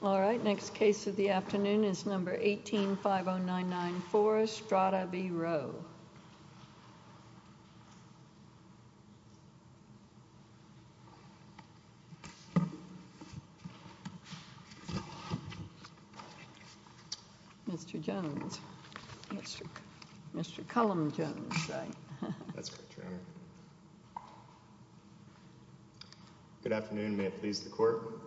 All right, next case of the afternoon is number 18-5099-4, Stratta v. Rowe. Mr. Jones. Mr. Cullum Jones, right? That's correct, Your Honor. Good afternoon, may it please the Court.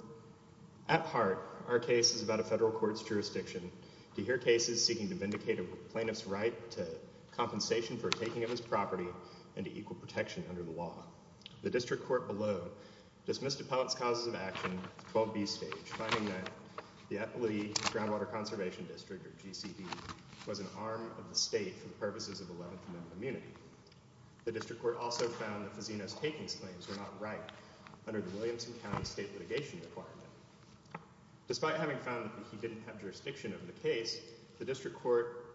At heart, our case is about a federal court's jurisdiction to hear cases seeking to vindicate a plaintiff's right to compensation for taking of his property and to equal protection under the law. The district court below dismissed Appellant's causes of action, 12B stage, finding that the Eppley Groundwater Conservation District, or GCD, was an arm of the state for the purposes of 11th Amendment immunity. The district court also found that Fazzino's takings claims were not right under the Williamson County state litigation requirement. Despite having found that he didn't have jurisdiction of the case, the district court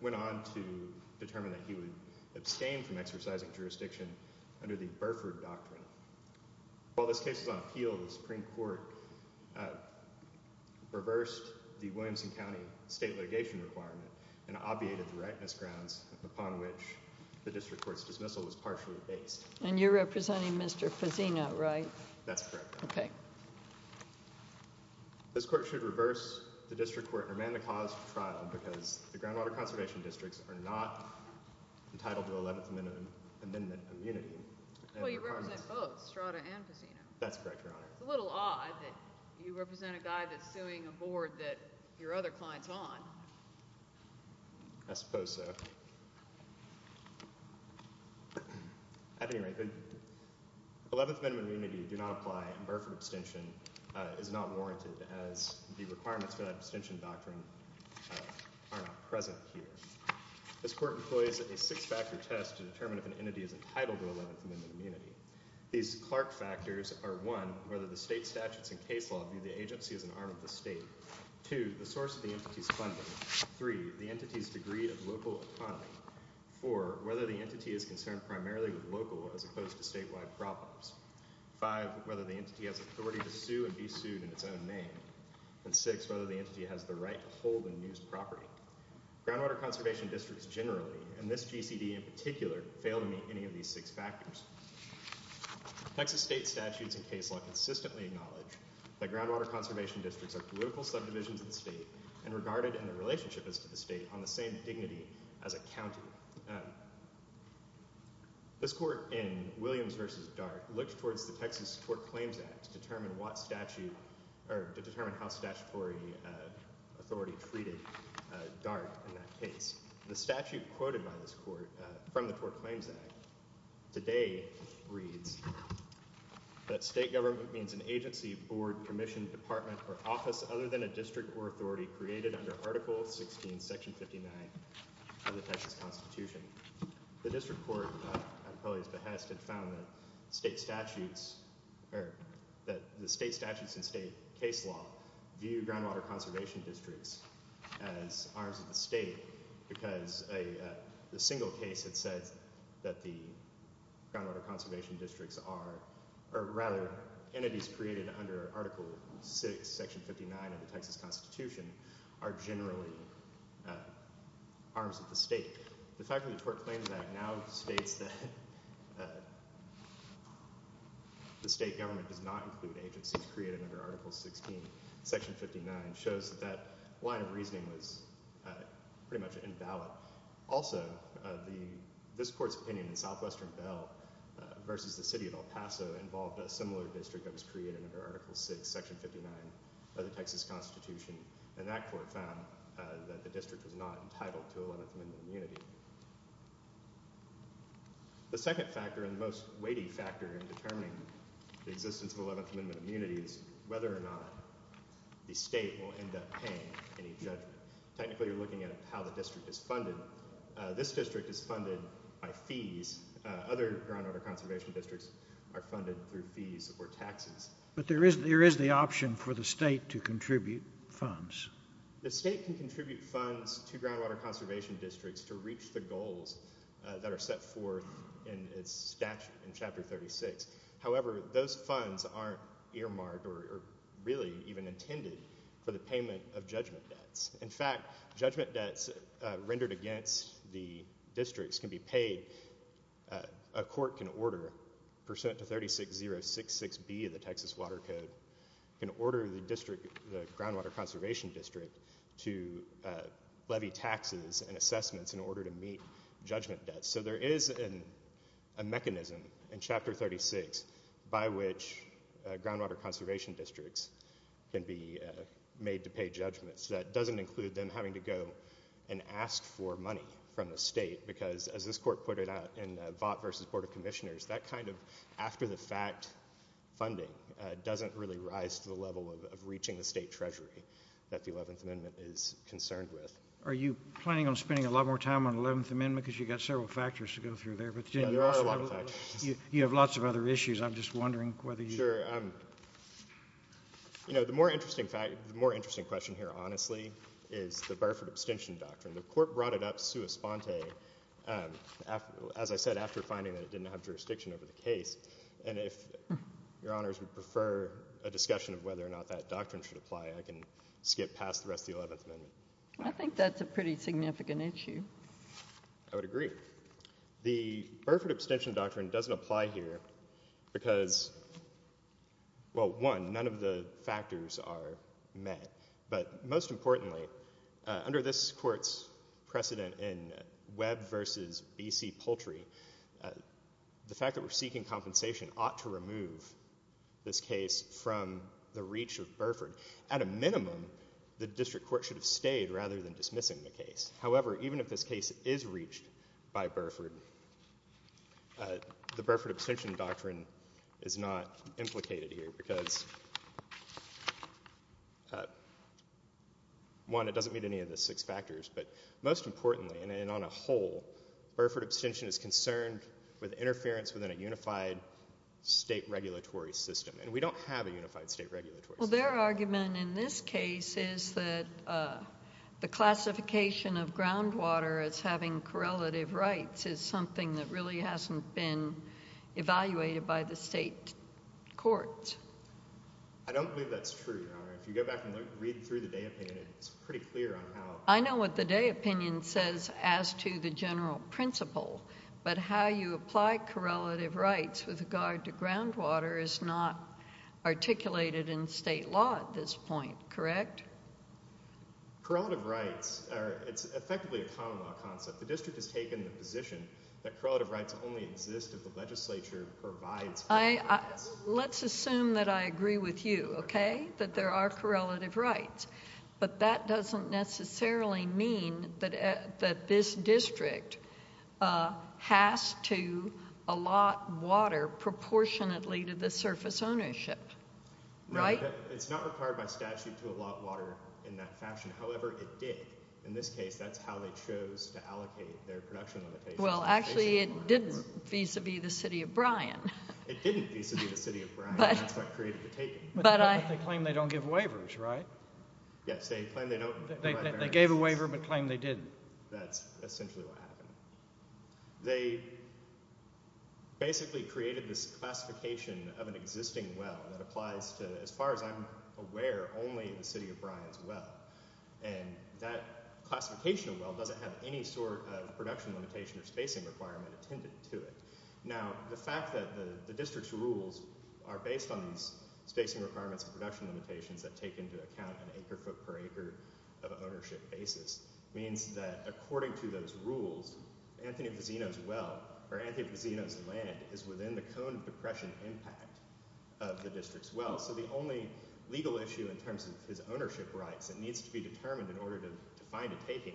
went on to determine that he would abstain from exercising jurisdiction under the Burford Doctrine. While this case was on appeal, the Supreme Court reversed the Williamson County state litigation requirement and obviated the rightness grounds upon which the district court's dismissal was partially based. And you're representing Mr. Fazzino, right? That's correct, Your Honor. Okay. This court should reverse the district court and amend the cause for trial because the groundwater conservation districts are not entitled to 11th Amendment immunity. Well, you represent both, Strada and Fazzino. That's correct, Your Honor. It's a little odd that you represent a guy that's suing a board that your other client's on. I suppose so. At any rate, the 11th Amendment immunity do not apply and Burford abstention is not warranted as the requirements for that abstention doctrine are not present here. This court employs a six-factor test to determine if an entity is entitled to 11th Amendment immunity. These Clark factors are one, whether the state statutes and case law view the agency as an arm of the state. Two, the source of the entity's funding. Three, the entity's degree of local autonomy. Four, whether the entity is concerned primarily with local as opposed to statewide problems. Five, whether the entity has authority to sue and be sued in its own name. And six, whether the entity has the right to hold and use property. Groundwater conservation districts generally, and this GCD in particular, fail to meet any of these six factors. Texas state statutes and case law consistently acknowledge that groundwater conservation districts are political subdivisions of the state and regarded in a relationship as to the state on the same dignity as a county. This court in Williams v. Dart looked towards the Texas Court Claims Act to determine what statute or to determine how statutory authority treated Dart in that case. The statute quoted by this court from the Tort Claims Act today reads that state government means an agency, board, commission, department, or office other than a district or authority created under Article 16, Section 59 of the Texas Constitution. The district court, on Polly's behest, had found that the state statutes and state case law view groundwater conservation districts as arms of the state because the single case that says that the groundwater conservation districts are, or rather entities created under Article 6, Section 59 of the Texas Constitution, are generally arms of the state. The fact that the Tort Claims Act now states that the state government does not include agencies created under Article 16, Section 59 shows that that line of reasoning was pretty much invalid. Also, this court's opinion in Southwestern Bell v. the City of El Paso involved a similar district that was created under Article 6, Section 59 of the Texas Constitution, and that court found that the district was not entitled to 11th Amendment immunity. The second factor and the most weighty factor in determining the existence of 11th Amendment immunity is whether or not the state will end up paying any judgment. Technically, you're looking at how the district is funded. This district is funded by fees. Other groundwater conservation districts are funded through fees or taxes. But there is the option for the state to contribute funds. The state can contribute funds to groundwater conservation districts to reach the goals that are set forth in its statute in Chapter 36. However, those funds aren't earmarked or really even intended for the payment of judgment debts. In fact, judgment debts rendered against the districts can be paid. A court can order, pursuant to 36066B of the Texas Water Code, can order the district, the groundwater conservation district, to levy taxes and assessments in order to meet judgment debts. So there is a mechanism in Chapter 36 by which groundwater conservation districts can be made to pay judgments. That doesn't include them having to go and ask for money from the state because, as this court put it out in Vought v. Board of Commissioners, that kind of after-the-fact funding doesn't really rise to the level of reaching the state treasury that the 11th Amendment is concerned with. Are you planning on spending a lot more time on the 11th Amendment because you've got several factors to go through there? There are a lot of factors. You have lots of other issues. I'm just wondering whether you— Sure. You know, the more interesting question here, honestly, is the Burford abstention doctrine. The court brought it up sua sponte, as I said, after finding that it didn't have jurisdiction over the case. And if Your Honors would prefer a discussion of whether or not that doctrine should apply, I can skip past the rest of the 11th Amendment. I think that's a pretty significant issue. I would agree. The Burford abstention doctrine doesn't apply here because, well, one, none of the factors are met. But most importantly, under this court's precedent in Webb v. B.C. Poultry, the fact that we're seeking compensation ought to remove this case from the reach of Burford. At a minimum, the district court should have stayed rather than dismissing the case. However, even if this case is reached by Burford, the Burford abstention doctrine is not implicated here because, one, it doesn't meet any of the six factors. But most importantly, and on a whole, Burford abstention is concerned with interference within a unified state regulatory system. And we don't have a unified state regulatory system. So their argument in this case is that the classification of groundwater as having correlative rights is something that really hasn't been evaluated by the state courts. I don't believe that's true, Your Honor. If you go back and read through the Day opinion, it's pretty clear on how— Correct? Correlative rights are—it's effectively a common law concept. The district has taken the position that correlative rights only exist if the legislature provides correlative rights. Let's assume that I agree with you, okay, that there are correlative rights. But that doesn't necessarily mean that this district has to allot water proportionately to the surface ownership, right? It's not required by statute to allot water in that fashion. However, it did. In this case, that's how they chose to allocate their production limitations. Well, actually, it didn't vis-a-vis the city of Bryan. It didn't vis-a-vis the city of Bryan. That's what created the taking. But they claim they don't give waivers, right? Yes, they claim they don't. They gave a waiver but claimed they didn't. That's essentially what happened. They basically created this classification of an existing well that applies to, as far as I'm aware, only the city of Bryan's well. And that classification of well doesn't have any sort of production limitation or spacing requirement attended to it. Now, the fact that the district's rules are based on these spacing requirements and production limitations that take into account an acre-foot-per-acre of ownership basis means that, according to those rules, Anthony Fazzino's well or Anthony Fazzino's land is within the cone of the prescient impact of the district's well. So the only legal issue in terms of his ownership rights that needs to be determined in order to find a taking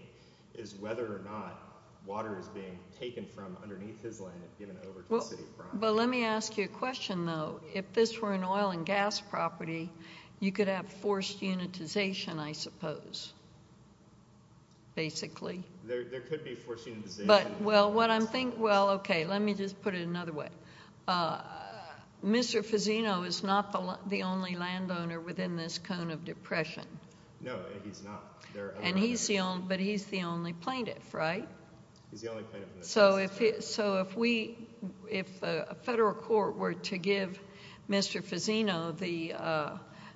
is whether or not water is being taken from underneath his land and given over to the city of Bryan. But let me ask you a question, though. If this were an oil and gas property, you could have forced unitization, I suppose, basically. There could be forced unitization. Well, okay, let me just put it another way. Mr. Fazzino is not the only landowner within this cone of depression. No, he's not. But he's the only plaintiff, right? He's the only plaintiff in this case. So if we – if a federal court were to give Mr. Fazzino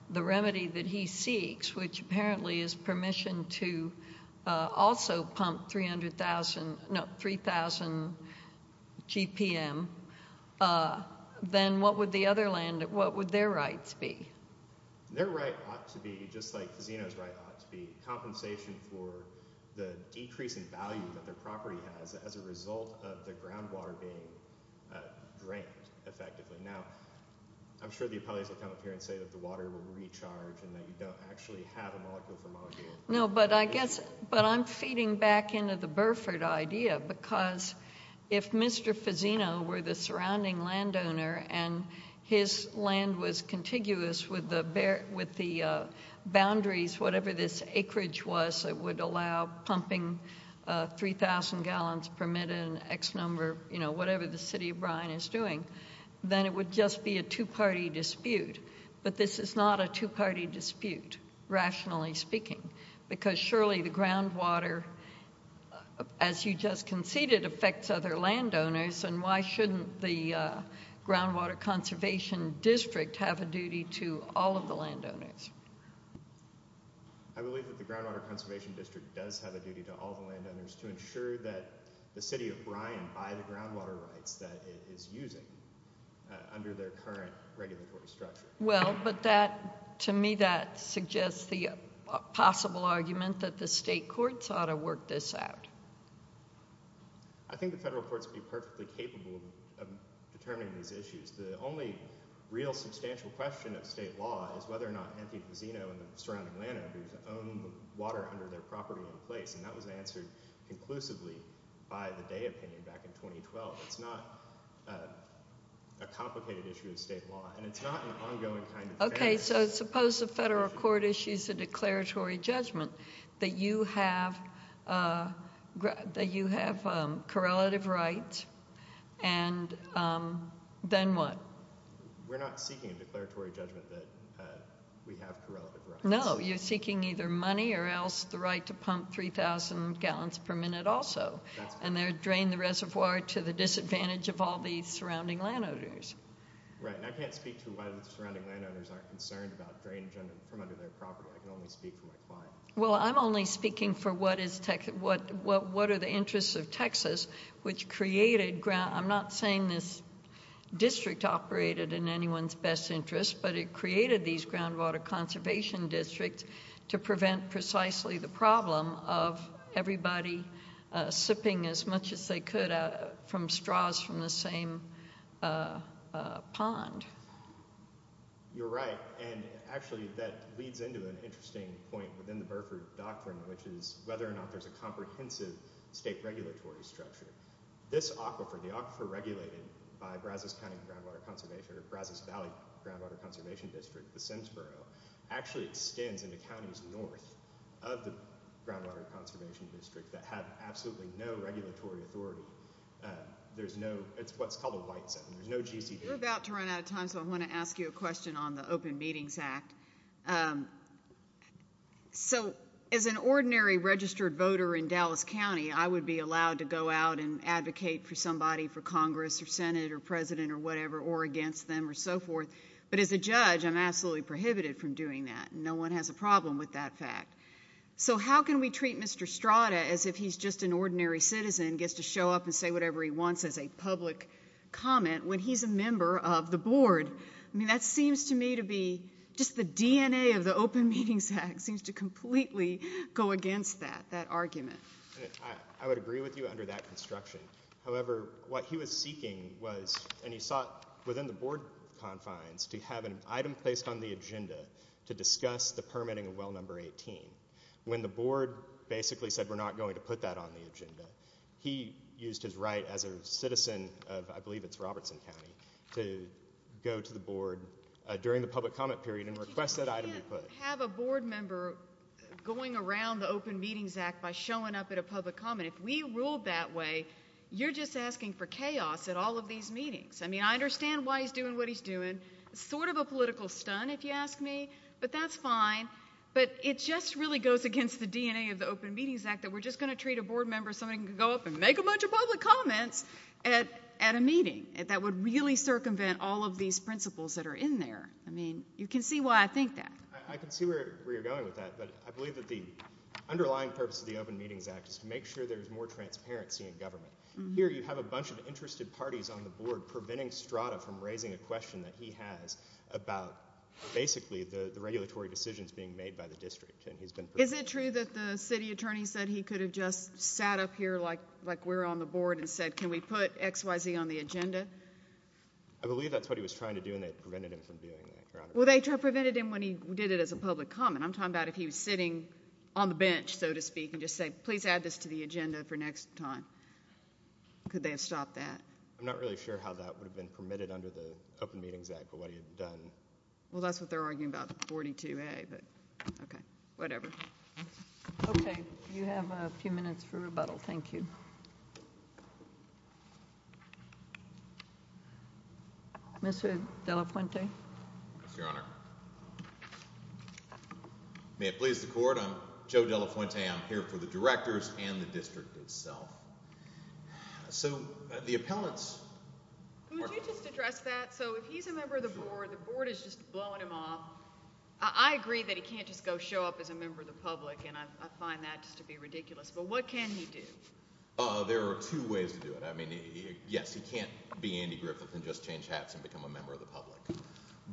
the remedy that he seeks, which apparently is permission to also pump 300,000 – no, 3,000 GPM, then what would the other land – what would their rights be? Their right ought to be, just like Fazzino's right ought to be, compensation for the decrease in value that their property has as a result of the groundwater being drained effectively. Now, I'm sure the appellees will come up here and say that the water will recharge and that you don't actually have a molecule for molecule. No, but I guess – but I'm feeding back into the Burford idea because if Mr. Fazzino were the surrounding landowner and his land was contiguous with the boundaries, whatever this acreage was that would allow pumping 3,000 gallons per minute and X number, you know, whatever the city of Bryan is doing, then it would just be a two-party dispute. But this is not a two-party dispute, rationally speaking, because surely the groundwater, as you just conceded, affects other landowners, and why shouldn't the Groundwater Conservation District have a duty to all of the landowners? I believe that the Groundwater Conservation District does have a duty to all the landowners to ensure that the city of Bryan buy the groundwater rights that it is using under their current regulatory structure. Well, but that – to me that suggests the possible argument that the state courts ought to work this out. I think the federal courts would be perfectly capable of determining these issues. The only real substantial question of state law is whether or not Anthony Fazzino and the surrounding landowners own the water under their property in place, and that was answered conclusively by the Day opinion back in 2012. It's not a complicated issue of state law, and it's not an ongoing kind of thing. Okay, so suppose the federal court issues a declaratory judgment that you have correlative rights, and then what? We're not seeking a declaratory judgment that we have correlative rights. No, you're seeking either money or else the right to pump 3,000 gallons per minute also, and then drain the reservoir to the disadvantage of all the surrounding landowners. Right, and I can't speak to why the surrounding landowners aren't concerned about drainage from under their property. I can only speak for my client. Well, I'm only speaking for what are the interests of Texas, which created – I'm not saying this district operated in anyone's best interest, but it created these groundwater conservation districts to prevent precisely the problem of everybody sipping as much as they could from straws from the same pond. You're right, and actually that leads into an interesting point within the Burford Doctrine, which is whether or not there's a comprehensive state regulatory structure. This aquifer, the aquifer regulated by Brazos County Groundwater Conservation or Brazos Valley Groundwater Conservation District, the Simsboro, actually extends into counties north of the groundwater conservation district that have absolutely no regulatory authority. There's no – it's what's called a white zone. There's no GCD. You're about to run out of time, so I want to ask you a question on the Open Meetings Act. So as an ordinary registered voter in Dallas County, I would be allowed to go out and advocate for somebody for Congress or Senate or president or whatever or against them or so forth. But as a judge, I'm absolutely prohibited from doing that. No one has a problem with that fact. So how can we treat Mr. Strada as if he's just an ordinary citizen, gets to show up and say whatever he wants as a public comment when he's a member of the board? I mean, that seems to me to be – just the DNA of the Open Meetings Act seems to completely go against that, that argument. I would agree with you under that construction. However, what he was seeking was – and he sought within the board confines to have an item placed on the agenda to discuss the permitting of well number 18. When the board basically said we're not going to put that on the agenda, he used his right as a citizen of – I believe it's Robertson County – to go to the board during the public comment period and request that item be put. You can't have a board member going around the Open Meetings Act by showing up at a public comment. If we ruled that way, you're just asking for chaos at all of these meetings. I mean, I understand why he's doing what he's doing. It's sort of a political stun, if you ask me, but that's fine. But it just really goes against the DNA of the Open Meetings Act that we're just going to treat a board member as somebody who can go up and make a bunch of public comments at a meeting. That would really circumvent all of these principles that are in there. I mean, you can see why I think that. I can see where you're going with that, but I believe that the underlying purpose of the Open Meetings Act is to make sure there's more transparency in government. Here you have a bunch of interested parties on the board preventing Strada from raising a question that he has about basically the regulatory decisions being made by the district. Is it true that the city attorney said he could have just sat up here like we're on the board and said can we put XYZ on the agenda? I believe that's what he was trying to do, and they prevented him from doing that, Your Honor. Well, they prevented him when he did it as a public comment. I'm talking about if he was sitting on the bench, so to speak, and just said please add this to the agenda for next time. Could they have stopped that? I'm not really sure how that would have been permitted under the Open Meetings Act, but what he had done. Well, that's what they're arguing about, the 42A, but okay, whatever. Okay. You have a few minutes for rebuttal. Thank you. Mr. De La Fuente. Yes, Your Honor. May it please the court, I'm Joe De La Fuente. I'm here for the directors and the district itself. So the appellants. Could you just address that? So if he's a member of the board, the board is just blowing him off. I agree that he can't just go show up as a member of the public, and I find that just to be ridiculous, but what can he do? There are two ways to do it. I mean, yes, he can't be Andy Griffith and just change hats and become a member of the public.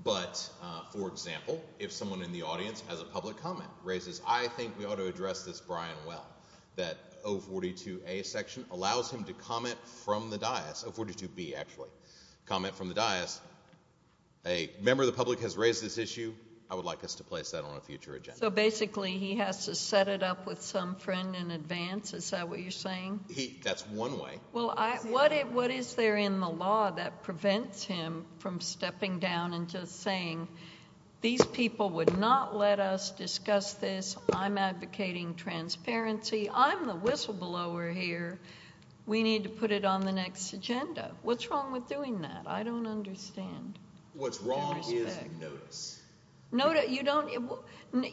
But, for example, if someone in the audience has a public comment, raises I think we ought to address this Brian well, that 042A section allows him to comment from the dais, 042B actually, comment from the dais, a member of the public has raised this issue, I would like us to place that on a future agenda. So basically he has to set it up with some friend in advance? Is that what you're saying? That's one way. Well, what is there in the law that prevents him from stepping down and just saying these people would not let us discuss this, I'm advocating transparency, I'm the whistleblower here, we need to put it on the next agenda. What's wrong with doing that? I don't understand. What's wrong is notice. Notice, you don't,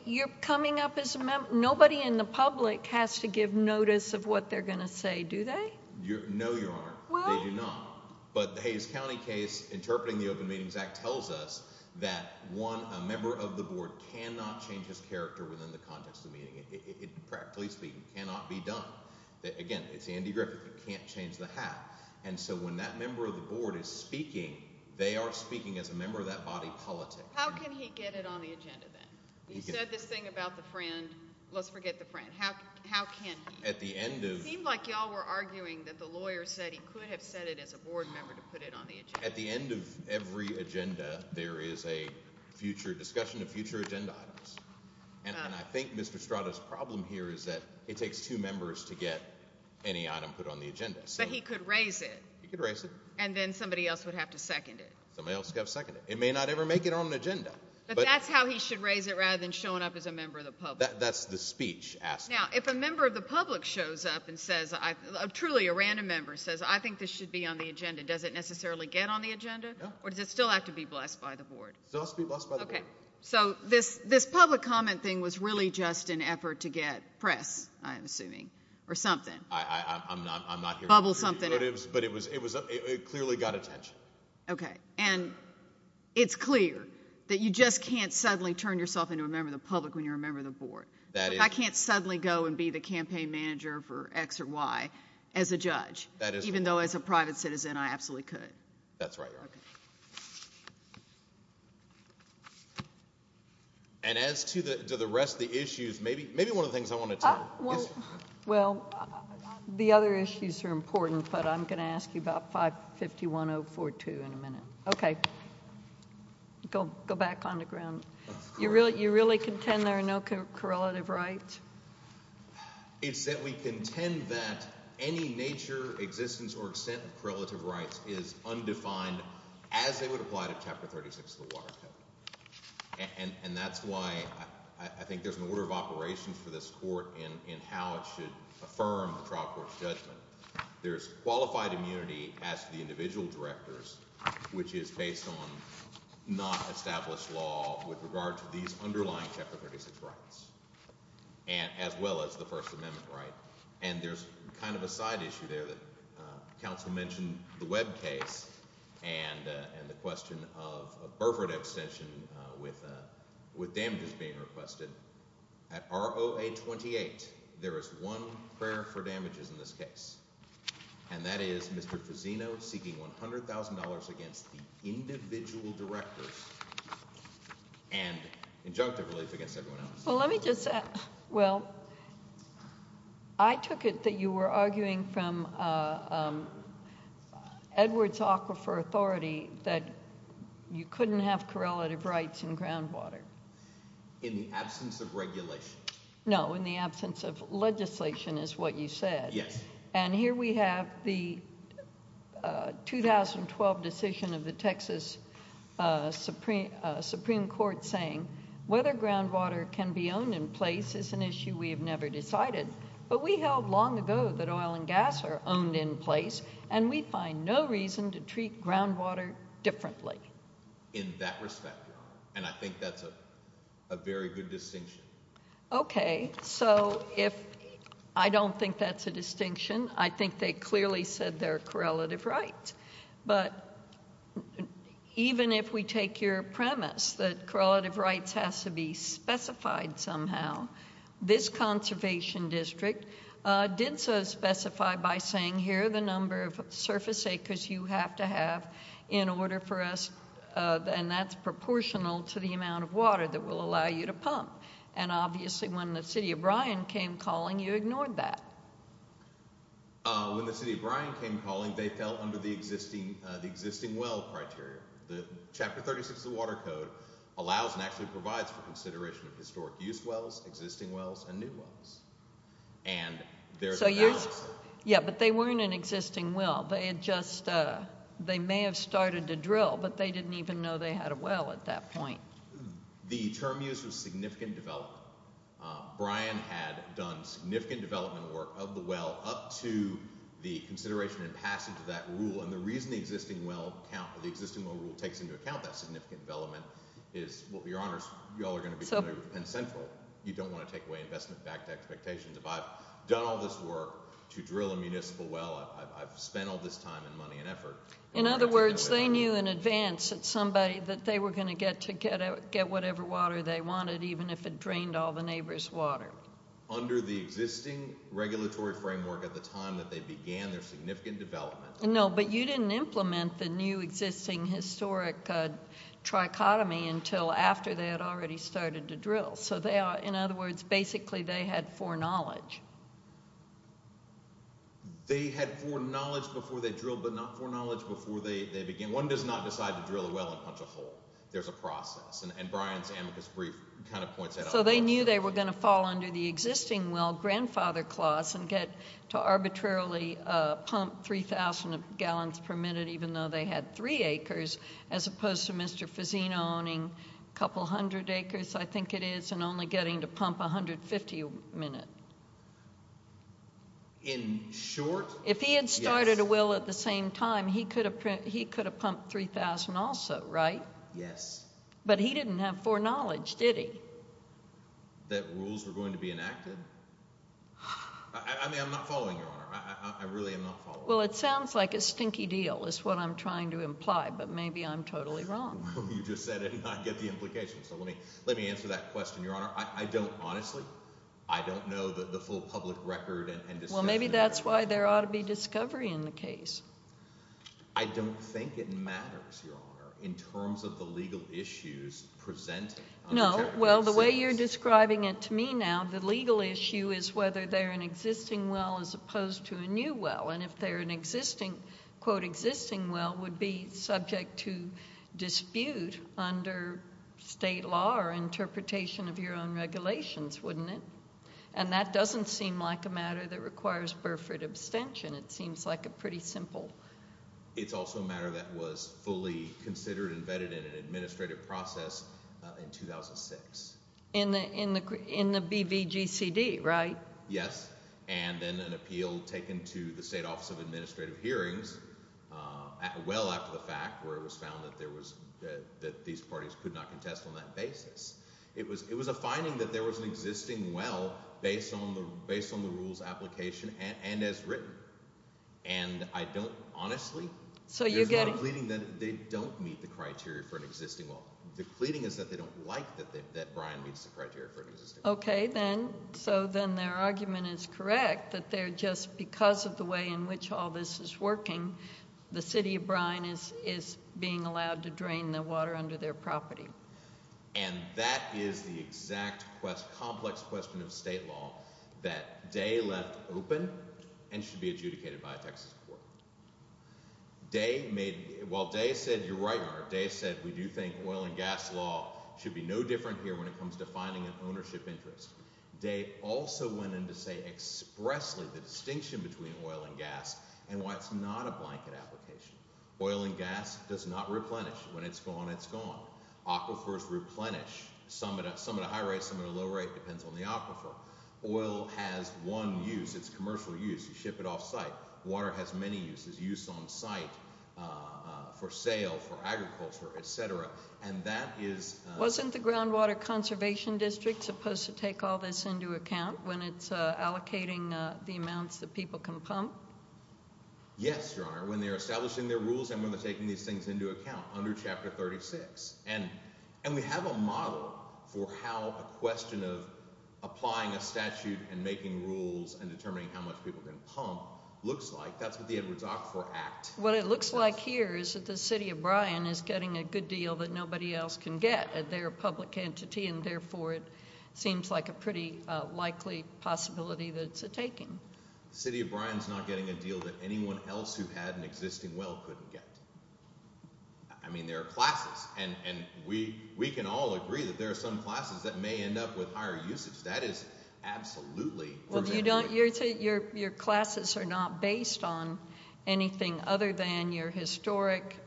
you're coming up as a member, nobody in the public has to give notice of what they're going to say, do they? No, Your Honor, they do not. But the Hayes County case interpreting the Open Meetings Act tells us that one, a member of the board cannot change his character within the context of the meeting, practically speaking, cannot be done. Again, it's Andy Griffith, he can't change the hat. And so when that member of the board is speaking, they are speaking as a member of that body politic. How can he get it on the agenda then? He said this thing about the friend, let's forget the friend, how can he? It seemed like y'all were arguing that the lawyer said he could have said it as a board member to put it on the agenda. At the end of every agenda, there is a future discussion of future agenda items. And I think Mr. Strada's problem here is that it takes two members to get any item put on the agenda. But he could raise it. He could raise it. And then somebody else would have to second it. Somebody else would have to second it. It may not ever make it on the agenda. But that's how he should raise it rather than showing up as a member of the public. That's the speech asking. Now, if a member of the public shows up and says, truly a random member says, I think this should be on the agenda, does it necessarily get on the agenda? No. Or does it still have to be blessed by the board? It still has to be blessed by the board. Okay. So this public comment thing was really just an effort to get press, I'm assuming, or something. I'm not here to give you motives, but it clearly got attention. Okay. And it's clear that you just can't suddenly turn yourself into a member of the public when you're a member of the board. I can't suddenly go and be the campaign manager for X or Y as a judge, even though as a private citizen I absolutely could. That's right. And as to the rest of the issues, maybe one of the things I want to tell you. Well, the other issues are important, but I'm going to ask you about 551042 in a minute. Okay. Go back on the ground. You really contend there are no correlative rights? It's that we contend that any nature, existence, or extent of correlative rights is undefined as they would apply to Chapter 36 of the Water Code. And that's why I think there's an order of operations for this court in how it should affirm the trial court's judgment. There's qualified immunity as to the individual directors, which is based on not established law with regard to these underlying Chapter 36 rights, as well as the First Amendment right. And there's kind of a side issue there that counsel mentioned the Webb case and the question of Burford extension with damages being requested. At ROA 28, there is one prayer for damages in this case, and that is Mr. Fusino seeking $100,000 against the individual directors and injunctive relief against everyone else. Well, let me just – well, I took it that you were arguing from Edwards Aquifer Authority that you couldn't have correlative rights in groundwater. In the absence of regulation. No, in the absence of legislation is what you said. Yes. And here we have the 2012 decision of the Texas Supreme Court saying whether groundwater can be owned in place is an issue we have never decided. But we held long ago that oil and gas are owned in place, and we find no reason to treat groundwater differently. In that respect, and I think that's a very good distinction. Okay, so if – I don't think that's a distinction. I think they clearly said there are correlative rights. But even if we take your premise that correlative rights has to be specified somehow, this conservation district did so specify by saying here are the number of surface acres you have to have in order for us – and that's proportional to the amount of water that will allow you to pump. And obviously when the city of Bryan came calling, you ignored that. When the city of Bryan came calling, they fell under the existing well criteria. Chapter 36 of the Water Code allows and actually provides for consideration of historic use wells, existing wells, and new wells. And there's a balance. Yeah, but they weren't an existing well. They had just – they may have started to drill, but they didn't even know they had a well at that point. The term use was significant development. Bryan had done significant development work of the well up to the consideration and passage of that rule. And the reason the existing well rule takes into account that significant development is, well, Your Honors, you all are going to be doing it with Penn Central. You don't want to take away investment-backed expectations. If I've done all this work to drill a municipal well, I've spent all this time and money and effort. In other words, they knew in advance that somebody – that they were going to get to get whatever water they wanted, even if it drained all the neighbor's water. Under the existing regulatory framework at the time that they began their significant development. No, but you didn't implement the new existing historic trichotomy until after they had already started to drill. So they are – in other words, basically they had foreknowledge. They had foreknowledge before they drilled, but not foreknowledge before they began. One does not decide to drill a well and punch a hole. There's a process, and Bryan's amicus brief kind of points that out. So they knew they were going to fall under the existing well grandfather clause and get to arbitrarily pump 3,000 gallons per minute, In short – If he had started a well at the same time, he could have pumped 3,000 also, right? Yes. But he didn't have foreknowledge, did he? That rules were going to be enacted? I mean, I'm not following, Your Honor. I really am not following. Well, it sounds like a stinky deal is what I'm trying to imply, but maybe I'm totally wrong. Well, you just said it, and I get the implication. So let me answer that question, Your Honor. I don't – honestly, I don't know the full public record and – Well, maybe that's why there ought to be discovery in the case. I don't think it matters, Your Honor, in terms of the legal issues presented. No. Well, the way you're describing it to me now, the legal issue is whether they're an existing well as opposed to a new well. And if they're an existing – quote, existing well would be subject to dispute under state law or interpretation of your own regulations, wouldn't it? And that doesn't seem like a matter that requires Burford abstention. It seems like a pretty simple – It's also a matter that was fully considered and vetted in an administrative process in 2006. In the BVGCD, right? Yes, and then an appeal taken to the State Office of Administrative Hearings well after the fact where it was found that there was – that these parties could not contest on that basis. It was a finding that there was an existing well based on the rules application and as written. And I don't – honestly, there's a lot of pleading that they don't meet the criteria for an existing well. The pleading is that they don't like that Brian meets the criteria for an existing well. Okay, then. So then their argument is correct that they're just – because of the way in which all this is working, the city of Brian is being allowed to drain the water under their property. And that is the exact complex question of state law that Day left open and should be adjudicated by a Texas court. Day made – well, Day said you're right, Mark. Day said we do think oil and gas law should be no different here when it comes to finding an ownership interest. Day also went in to say expressly the distinction between oil and gas and why it's not a blanket application. Oil and gas does not replenish. When it's gone, it's gone. Aquifers replenish. Some at a high rate, some at a low rate. It depends on the aquifer. Oil has one use. It's commercial use. You ship it offsite. Water has many uses – use on site, for sale, for agriculture, etc. And that is – Wasn't the Groundwater Conservation District supposed to take all this into account when it's allocating the amounts that people can pump? Yes, Your Honor, when they're establishing their rules and when they're taking these things into account under Chapter 36. And we have a model for how a question of applying a statute and making rules and determining how much people can pump looks like. That's what the Edwards Aquifer Act says. What it looks like here is that the City of Bryan is getting a good deal that nobody else can get. They're a public entity, and therefore it seems like a pretty likely possibility that it's a taking. The City of Bryan is not getting a deal that anyone else who had an existing well couldn't get. I mean, there are classes, and we can all agree that there are some classes that may end up with higher usage. That is absolutely – Your classes are not based on anything other than your historic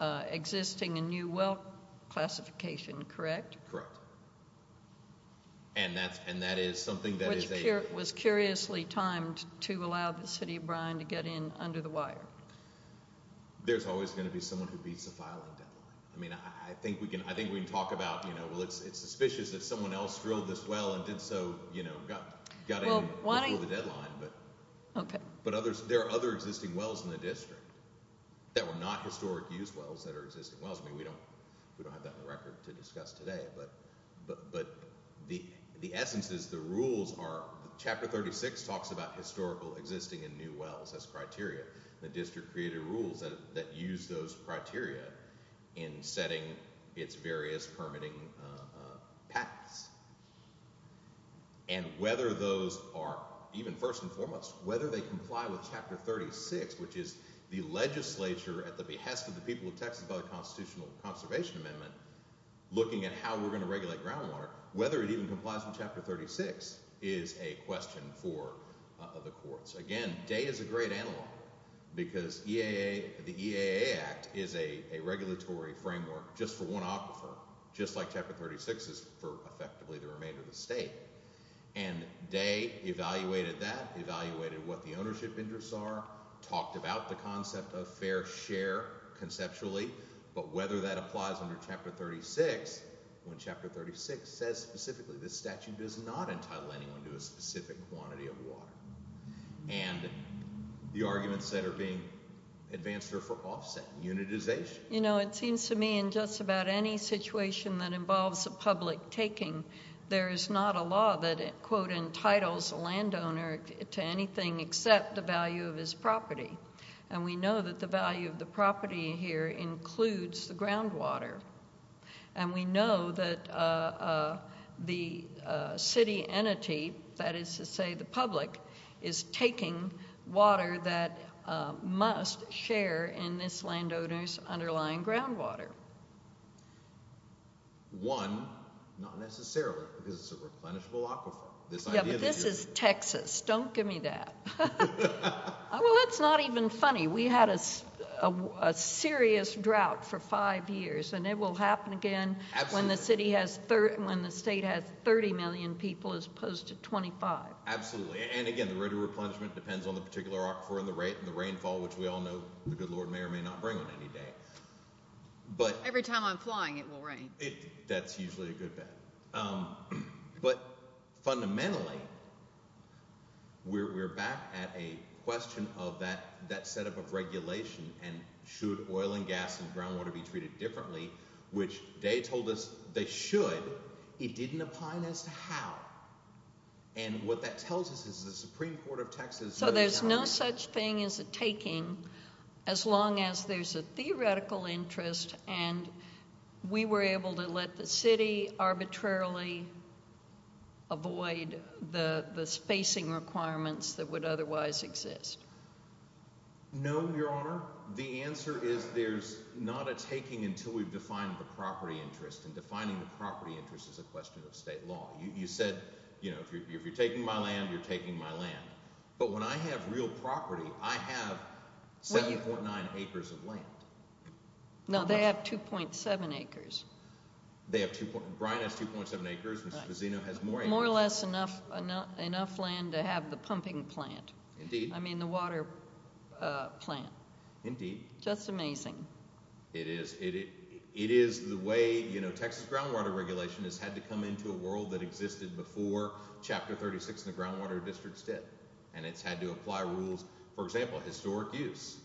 existing and new well classification, correct? Correct. And that is something that is a – Which was curiously timed to allow the City of Bryan to get in under the wire. There's always going to be someone who beats the filing deadline. I mean, I think we can talk about, well, it's suspicious that someone else drilled this well and did so, got in before the deadline. But there are other existing wells in the district that were not historic used wells that are existing wells. I mean, we don't have that on the record to discuss today. But the essence is the rules are – Chapter 36 talks about historical existing and new wells as criteria. The district created rules that use those criteria in setting its various permitting patents. And whether those are – even first and foremost, whether they comply with Chapter 36, which is the legislature at the behest of the people of Texas by the Constitutional Conservation Amendment, looking at how we're going to regulate groundwater, whether it even complies with Chapter 36 is a question for the courts. Again, Day is a great analog because the EAA Act is a regulatory framework just for one aquifer, just like Chapter 36 is for effectively the remainder of the state. And Day evaluated that, evaluated what the ownership interests are, talked about the concept of fair share conceptually. But whether that applies under Chapter 36, when Chapter 36 says specifically this statute does not entitle anyone to a specific quantity of water. And the arguments that are being advanced are for offset unitization. You know, it seems to me in just about any situation that involves a public taking, there is not a law that, quote, entitles a landowner to anything except the value of his property. And we know that the value of the property here includes the groundwater. And we know that the city entity, that is to say the public, is taking water that must share in this landowner's underlying groundwater. One, not necessarily, because it's a replenishable aquifer. Yeah, but this is Texas. Don't give me that. Well, it's not even funny. We had a serious drought for five years, and it will happen again when the state has 30 million people as opposed to 25. Absolutely. And again, the rate of replenishment depends on the particular aquifer and the rainfall, which we all know the good Lord may or may not bring on any day. Every time I'm flying, it will rain. That's usually a good bet. But fundamentally, we're back at a question of that setup of regulation and should oil and gas and groundwater be treated differently, which they told us they should. It didn't apply as to how. And what that tells us is the Supreme Court of Texas— So there's no such thing as a taking as long as there's a theoretical interest, and we were able to let the city arbitrarily avoid the spacing requirements that would otherwise exist. No, Your Honor. The answer is there's not a taking until we've defined the property interest, and defining the property interest is a question of state law. You said, you know, if you're taking my land, you're taking my land. But when I have real property, I have 749 acres of land. No, they have 2.7 acres. Brian has 2.7 acres. Mr. Fazzino has more acres. More or less enough land to have the pumping plant. Indeed. I mean, the water plant. Indeed. That's amazing. It is. It is the way, you know, Texas groundwater regulation has had to come into a world that existed before Chapter 36 in the Groundwater Districts did. And it's had to apply rules, for example, historic use,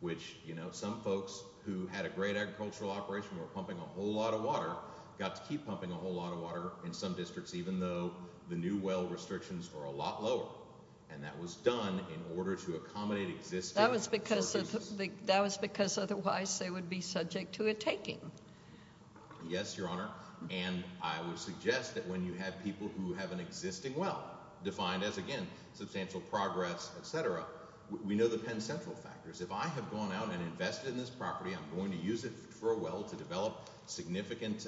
which, you know, some folks who had a great agricultural operation were pumping a whole lot of water, got to keep pumping a whole lot of water in some districts, even though the new well restrictions were a lot lower. And that was done in order to accommodate existing short uses. That was because otherwise they would be subject to a taking. Yes, Your Honor. And I would suggest that when you have people who have an existing well, defined as, again, substantial progress, etc., we know the Penn Central factors. If I have gone out and invested in this property, I'm going to use it for a well to develop significant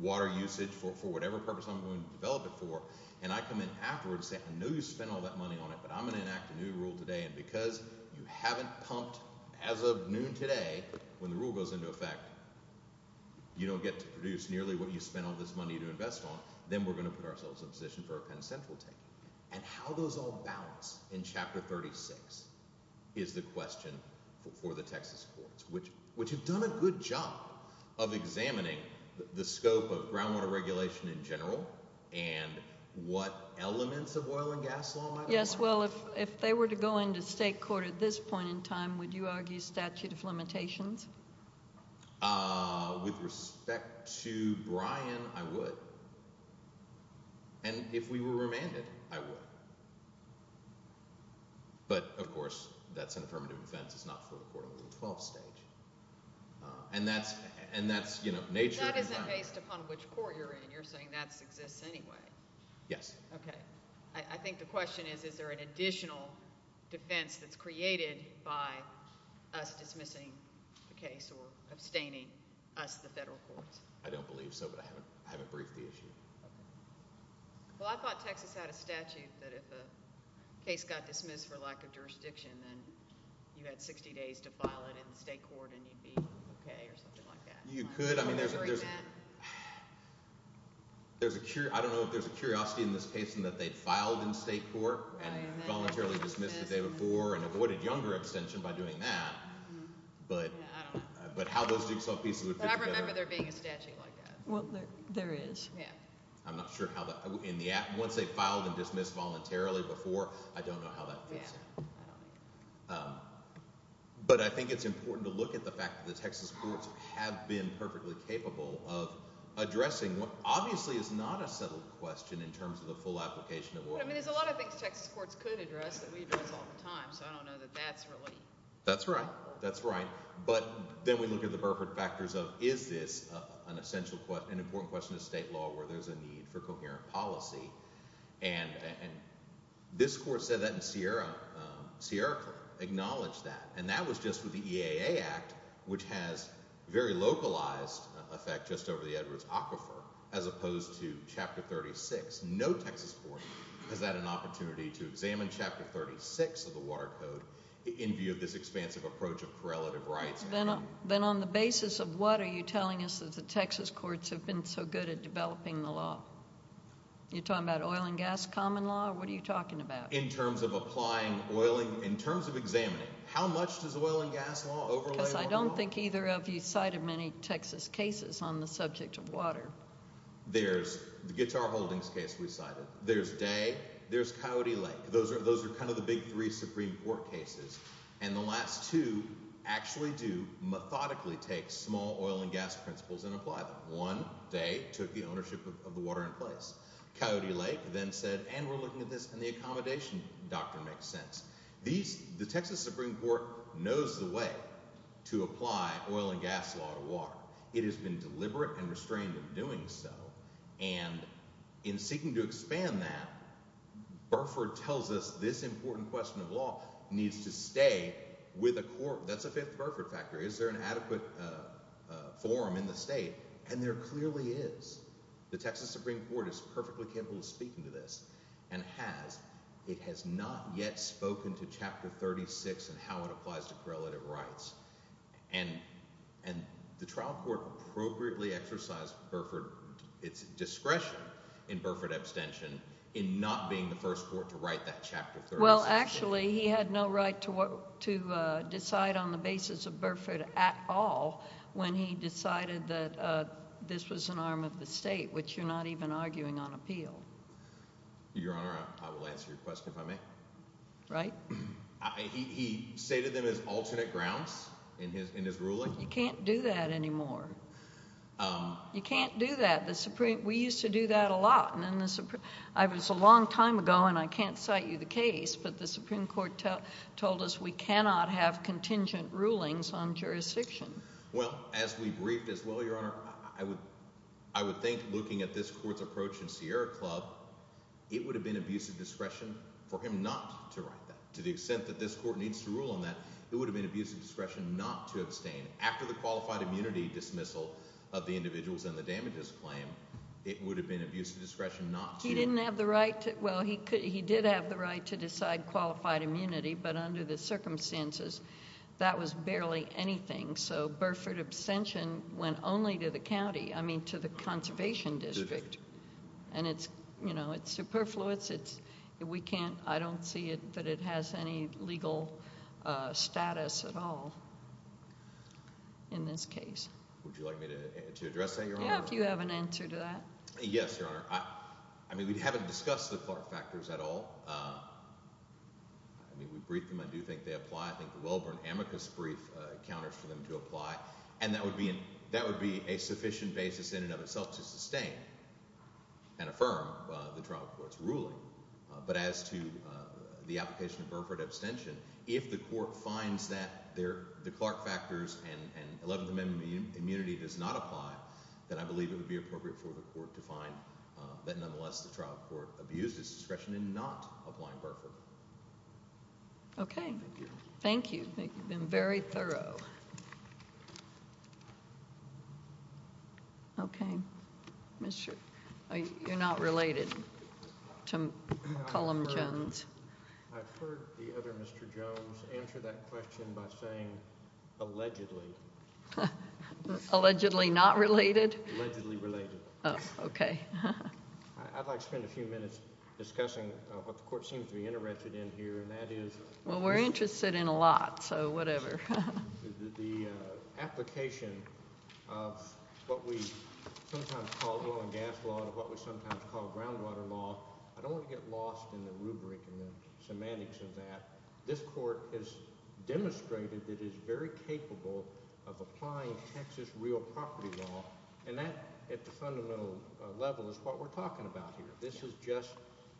water usage for whatever purpose I'm going to develop it for, and I come in afterwards and say, I know you spent all that money on it, but I'm going to enact a new rule today, and because you haven't pumped as of noon today, when the rule goes into effect, you don't get to produce nearly what you spent all this money to invest on, then we're going to put ourselves in a position for a Penn Central taking. And how those all balance in Chapter 36 is the question for the Texas courts, which have done a good job of examining the scope of groundwater regulation in general and what elements of oil and gas law might apply. Yes, well, if they were to go into state court at this point in time, would you argue statute of limitations? With respect to Brian, I would. And if we were remanded, I would. But, of course, that's an affirmative defense. It's not for the Court of Appeal 12 stage. And that's nature. That isn't based upon which court you're in. You're saying that exists anyway. Yes. Okay. I think the question is is there an additional defense that's created by us dismissing the case or abstaining us, the federal courts? I don't believe so, but I haven't briefed the issue. Okay. Well, I thought Texas had a statute that if a case got dismissed for lack of jurisdiction, then you had 60 days to file it in the state court and you'd be okay or something like that. You could. I don't know if there's a curiosity in this case in that they filed in state court and voluntarily dismissed the day before and avoided younger abstention by doing that, but how those jigsaw pieces would fit together. I remember there being a statute like that. Well, there is. Yeah. I'm not sure how that – once they filed and dismissed voluntarily before, I don't know how that fits in. Yeah. I don't either. But I think it's important to look at the fact that the Texas courts have been perfectly capable of addressing what obviously is not a settled question in terms of the full application. I mean, there's a lot of things Texas courts could address that we address all the time, so I don't know that that's really – That's right. That's right. But then we look at the perfect factors of is this an essential – an important question in state law where there's a need for coherent policy? And this court said that in Sierra – Sierra acknowledged that, and that was just with the EAA Act, which has very localized effect just over the Edwards Aquifer as opposed to Chapter 36. No Texas court has had an opportunity to examine Chapter 36 of the Water Code in view of this expansive approach of correlative rights. Then on the basis of what are you telling us that the Texas courts have been so good at developing the law? You're talking about oil and gas common law, or what are you talking about? In terms of applying oil and – in terms of examining. How much does oil and gas law overlay water law? Because I don't think either of you cited many Texas cases on the subject of water. There's the Guitar Holdings case we cited. There's Day. There's Coyote Lake. Those are kind of the big three Supreme Court cases, and the last two actually do methodically take small oil and gas principles and apply them. One, Day, took the ownership of the water in place. Coyote Lake then said, and we're looking at this, and the accommodation doctrine makes sense. These – the Texas Supreme Court knows the way to apply oil and gas law to water. It has been deliberate and restrained in doing so, and in seeking to expand that, Burford tells us this important question of law needs to stay with a court. That's a fifth Burford factor. Is there an adequate forum in the state? And there clearly is. The Texas Supreme Court is perfectly capable of speaking to this and has. It has not yet spoken to Chapter 36 and how it applies to correlative rights. And the trial court appropriately exercised Burford – its discretion in Burford abstention in not being the first court to write that Chapter 36. Well, actually, he had no right to decide on the basis of Burford at all when he decided that this was an arm of the state, which you're not even arguing on appeal. Your Honor, I will answer your question if I may. Right. He stated them as alternate grounds in his ruling? You can't do that anymore. You can't do that. The Supreme – we used to do that a lot. And then the – it was a long time ago, and I can't cite you the case, but the Supreme Court told us we cannot have contingent rulings on jurisdiction. Well, as we briefed as well, Your Honor, I would think looking at this court's approach in Sierra Club, it would have been abuse of discretion for him not to write that. To the extent that this court needs to rule on that, it would have been abuse of discretion not to abstain. After the qualified immunity dismissal of the individuals in the damages claim, it would have been abuse of discretion not to. He didn't have the right – well, he did have the right to decide qualified immunity, but under the circumstances, that was barely anything. So Burford abstention went only to the county – I mean to the conservation district. And it's superfluous. We can't – I don't see it that it has any legal status at all in this case. Would you like me to address that, Your Honor? Yeah, if you have an answer to that. Yes, Your Honor. I mean we haven't discussed the FARC factors at all. I mean we briefed them. I do think they apply. I think the Wellborn amicus brief counters for them to apply, and that would be a sufficient basis in and of itself to sustain and affirm the trial court's ruling. But as to the application of Burford abstention, if the court finds that the Clark factors and 11th Amendment immunity does not apply, then I believe it would be appropriate for the court to find that nonetheless the trial court abused its discretion in not applying Burford. Okay. Thank you. You've been very thorough. Okay. You're not related to Column Jones? I've heard the other Mr. Jones answer that question by saying allegedly. Allegedly not related? Allegedly related. Oh, okay. I'd like to spend a few minutes discussing what the court seems to be interested in here, and that is... Well, we're interested in a lot, so whatever. The application of what we sometimes call oil and gas law and what we sometimes call groundwater law, I don't want to get lost in the rubric and the semantics of that. This court has demonstrated it is very capable of applying Texas real property law, and that at the fundamental level is what we're talking about here. This is just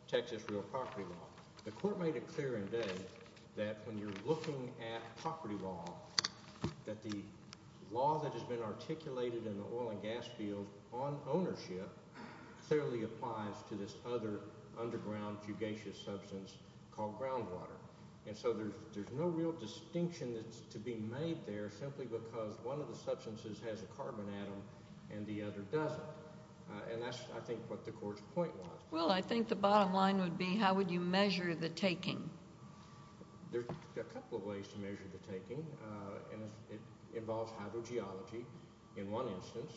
Texas real property law. The court made it clear in day that when you're looking at property law, that the law that has been articulated in the oil and gas field on ownership clearly applies to this other underground fugacious substance called groundwater. And so there's no real distinction to be made there simply because one of the substances has a carbon atom and the other doesn't. And that's, I think, what the court's point was. Well, I think the bottom line would be how would you measure the taking? There are a couple of ways to measure the taking. It involves hydrogeology in one instance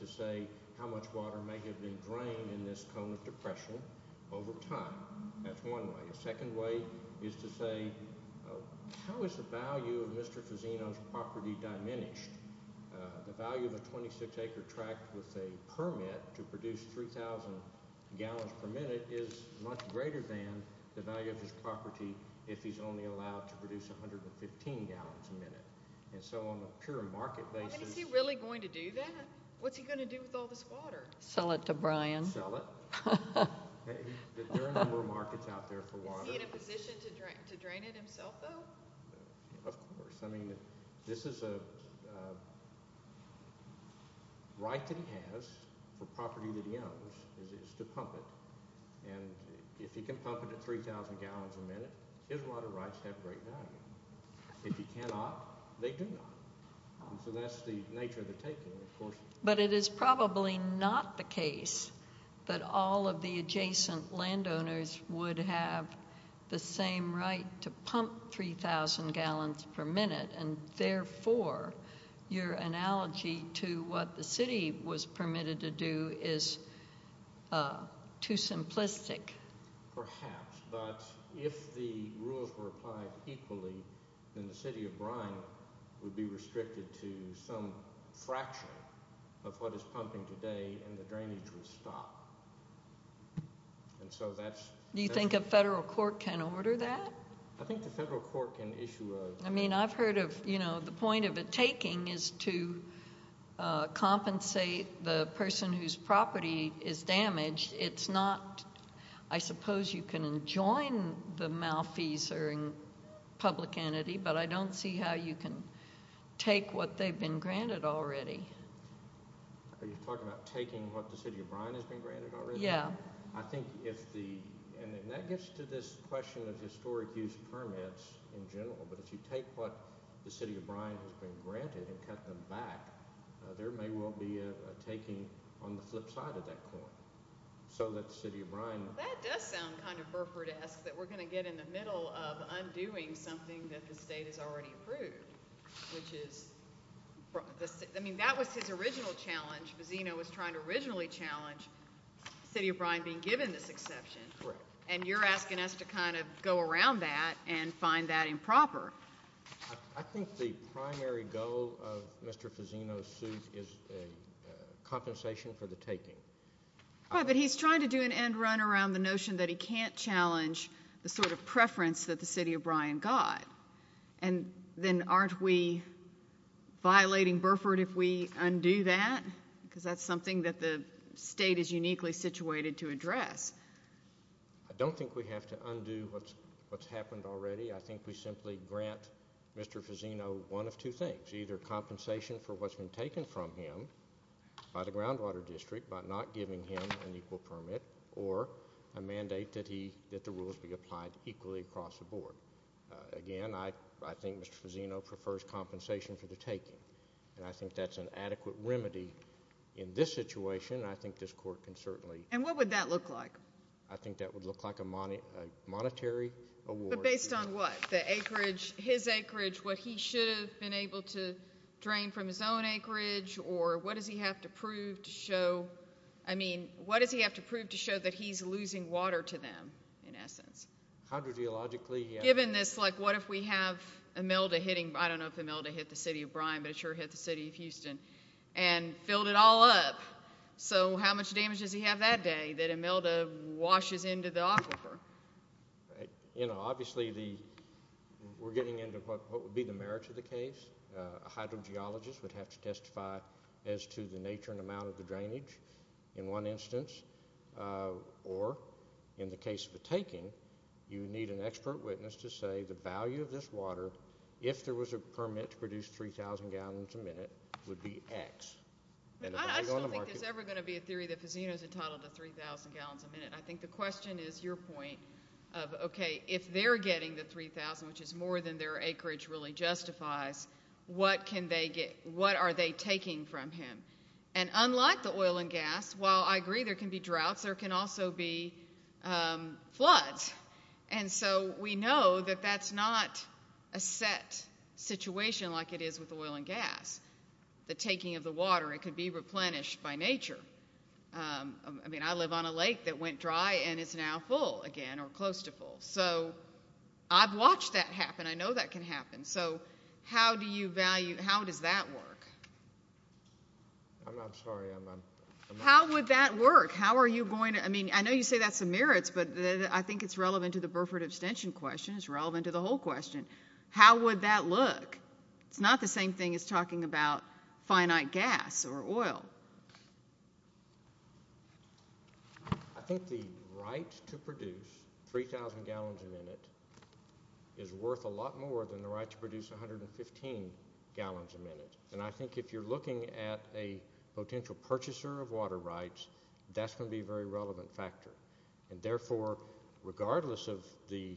to say how much water may have been drained in this cone of depression over time. That's one way. A second way is to say how is the value of Mr. Fazzino's property diminished? The value of a 26-acre tract with a permit to produce 3,000 gallons per minute is much greater than the value of his property if he's only allowed to produce 115 gallons a minute. And so on a pure market basis— I mean, is he really going to do that? What's he going to do with all this water? Sell it to Brian. Sell it. There are a number of markets out there for water. Is he in a position to drain it himself, though? Of course. I mean, this is a right that he has for property that he owns is to pump it. And if he can pump it at 3,000 gallons a minute, his water rights have great value. If he cannot, they do not. So that's the nature of the taking, of course. But it is probably not the case that all of the adjacent landowners would have the same right to pump 3,000 gallons per minute, and therefore your analogy to what the city was permitted to do is too simplistic. Perhaps. But if the rules were applied equally, then the city of Brian would be restricted to some fraction of what is pumping today, and the drainage would stop. And so that's— Do you think a federal court can order that? I think the federal court can issue a— I mean, I've heard of—you know, the point of a taking is to compensate the person whose property is damaged. It's not—I suppose you can enjoin the malfeasance of a public entity, but I don't see how you can take what they've been granted already. Are you talking about taking what the city of Brian has been granted already? Yeah. I think if the—and that gets to this question of historic use permits in general. But if you take what the city of Brian has been granted and cut them back, there may well be a taking on the flip side of that coin, so that the city of Brian— That does sound kind of Burford-esque, that we're going to get in the middle of undoing something that the state has already approved, which is—I mean, that was his original challenge. Bazzino was trying to originally challenge the city of Brian being given this exception. Correct. And you're asking us to kind of go around that and find that improper. I think the primary goal of Mr. Fazzino's suit is a compensation for the taking. All right, but he's trying to do an end run around the notion that he can't challenge the sort of preference that the city of Brian got. And then aren't we violating Burford if we undo that? Because that's something that the state is uniquely situated to address. I don't think we have to undo what's happened already. I think we simply grant Mr. Fazzino one of two things, either compensation for what's been taken from him by the groundwater district by not giving him an equal permit, or a mandate that the rules be applied equally across the board. Again, I think Mr. Fazzino prefers compensation for the taking. And I think that's an adequate remedy in this situation, and I think this court can certainly— And what would that look like? I think that would look like a monetary award. But based on what? The acreage, his acreage, what he should have been able to drain from his own acreage, or what does he have to prove to show—I mean, what does he have to prove to show that he's losing water to them, in essence? Hydrogeologically— And filled it all up. So how much damage does he have that day that Imelda washes into the aquifer? You know, obviously we're getting into what would be the merits of the case. A hydrogeologist would have to testify as to the nature and amount of the drainage in one instance. Or, in the case of the taking, you need an expert witness to say the value of this water, if there was a permit to produce 3,000 gallons a minute, would be X. I just don't think there's ever going to be a theory that Fazzino's entitled to 3,000 gallons a minute. I think the question is your point of, okay, if they're getting the 3,000, which is more than their acreage really justifies, what are they taking from him? And unlike the oil and gas, while I agree there can be droughts, there can also be floods. And so we know that that's not a set situation like it is with oil and gas. The taking of the water, it could be replenished by nature. I mean, I live on a lake that went dry, and it's now full again, or close to full. So I've watched that happen. I know that can happen. So how do you value—how does that work? I'm not sure. How would that work? How are you going to—I mean, I know you say that's the merits, but I think it's relevant to the Burford abstention question. It's relevant to the whole question. How would that look? It's not the same thing as talking about finite gas or oil. I think the right to produce 3,000 gallons a minute is worth a lot more than the right to produce 115 gallons a minute. And I think if you're looking at a potential purchaser of water rights, that's going to be a very relevant factor. And therefore, regardless of the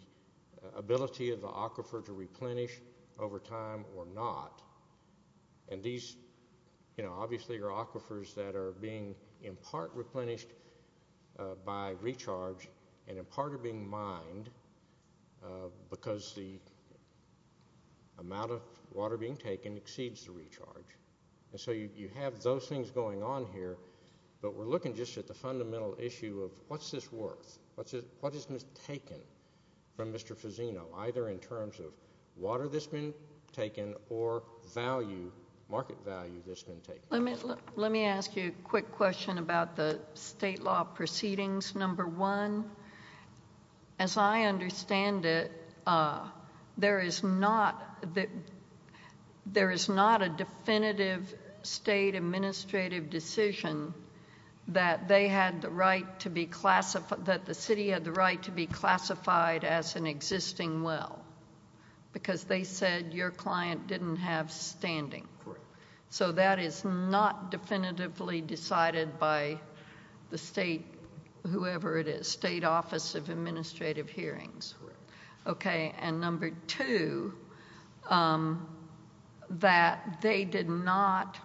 ability of the aquifer to replenish over time or not, and these obviously are aquifers that are being in part replenished by recharge and in part are being mined because the amount of water being taken exceeds the recharge. And so you have those things going on here, but we're looking just at the fundamental issue of what's this worth? What has been taken from Mr. Fazzino, either in terms of water that's been taken or market value that's been taken? Let me ask you a quick question about the state law proceedings. Number one, as I understand it, there is not a definitive state administrative decision that the city had the right to be classified as an existing well because they said your client didn't have standing. Correct. So that is not definitively decided by the state, whoever it is, State Office of Administrative Hearings. Correct. Okay, and number two, that they did not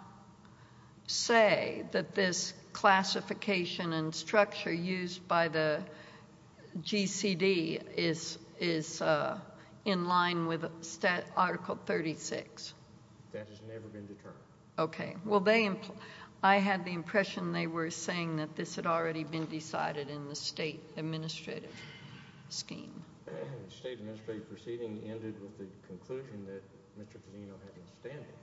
say that this classification and structure used by the GCD is in line with Article 36. That has never been determined. Okay. Well, I had the impression they were saying that this had already been decided in the state administrative scheme. The state administrative proceeding ended with the conclusion that Mr. Fazzino had been standing,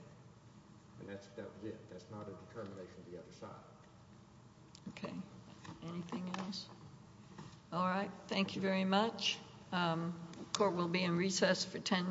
and that was it. That's not a determination of the other side. Okay. Anything else? All right. Thank you very much. The court will be in recess for ten minutes.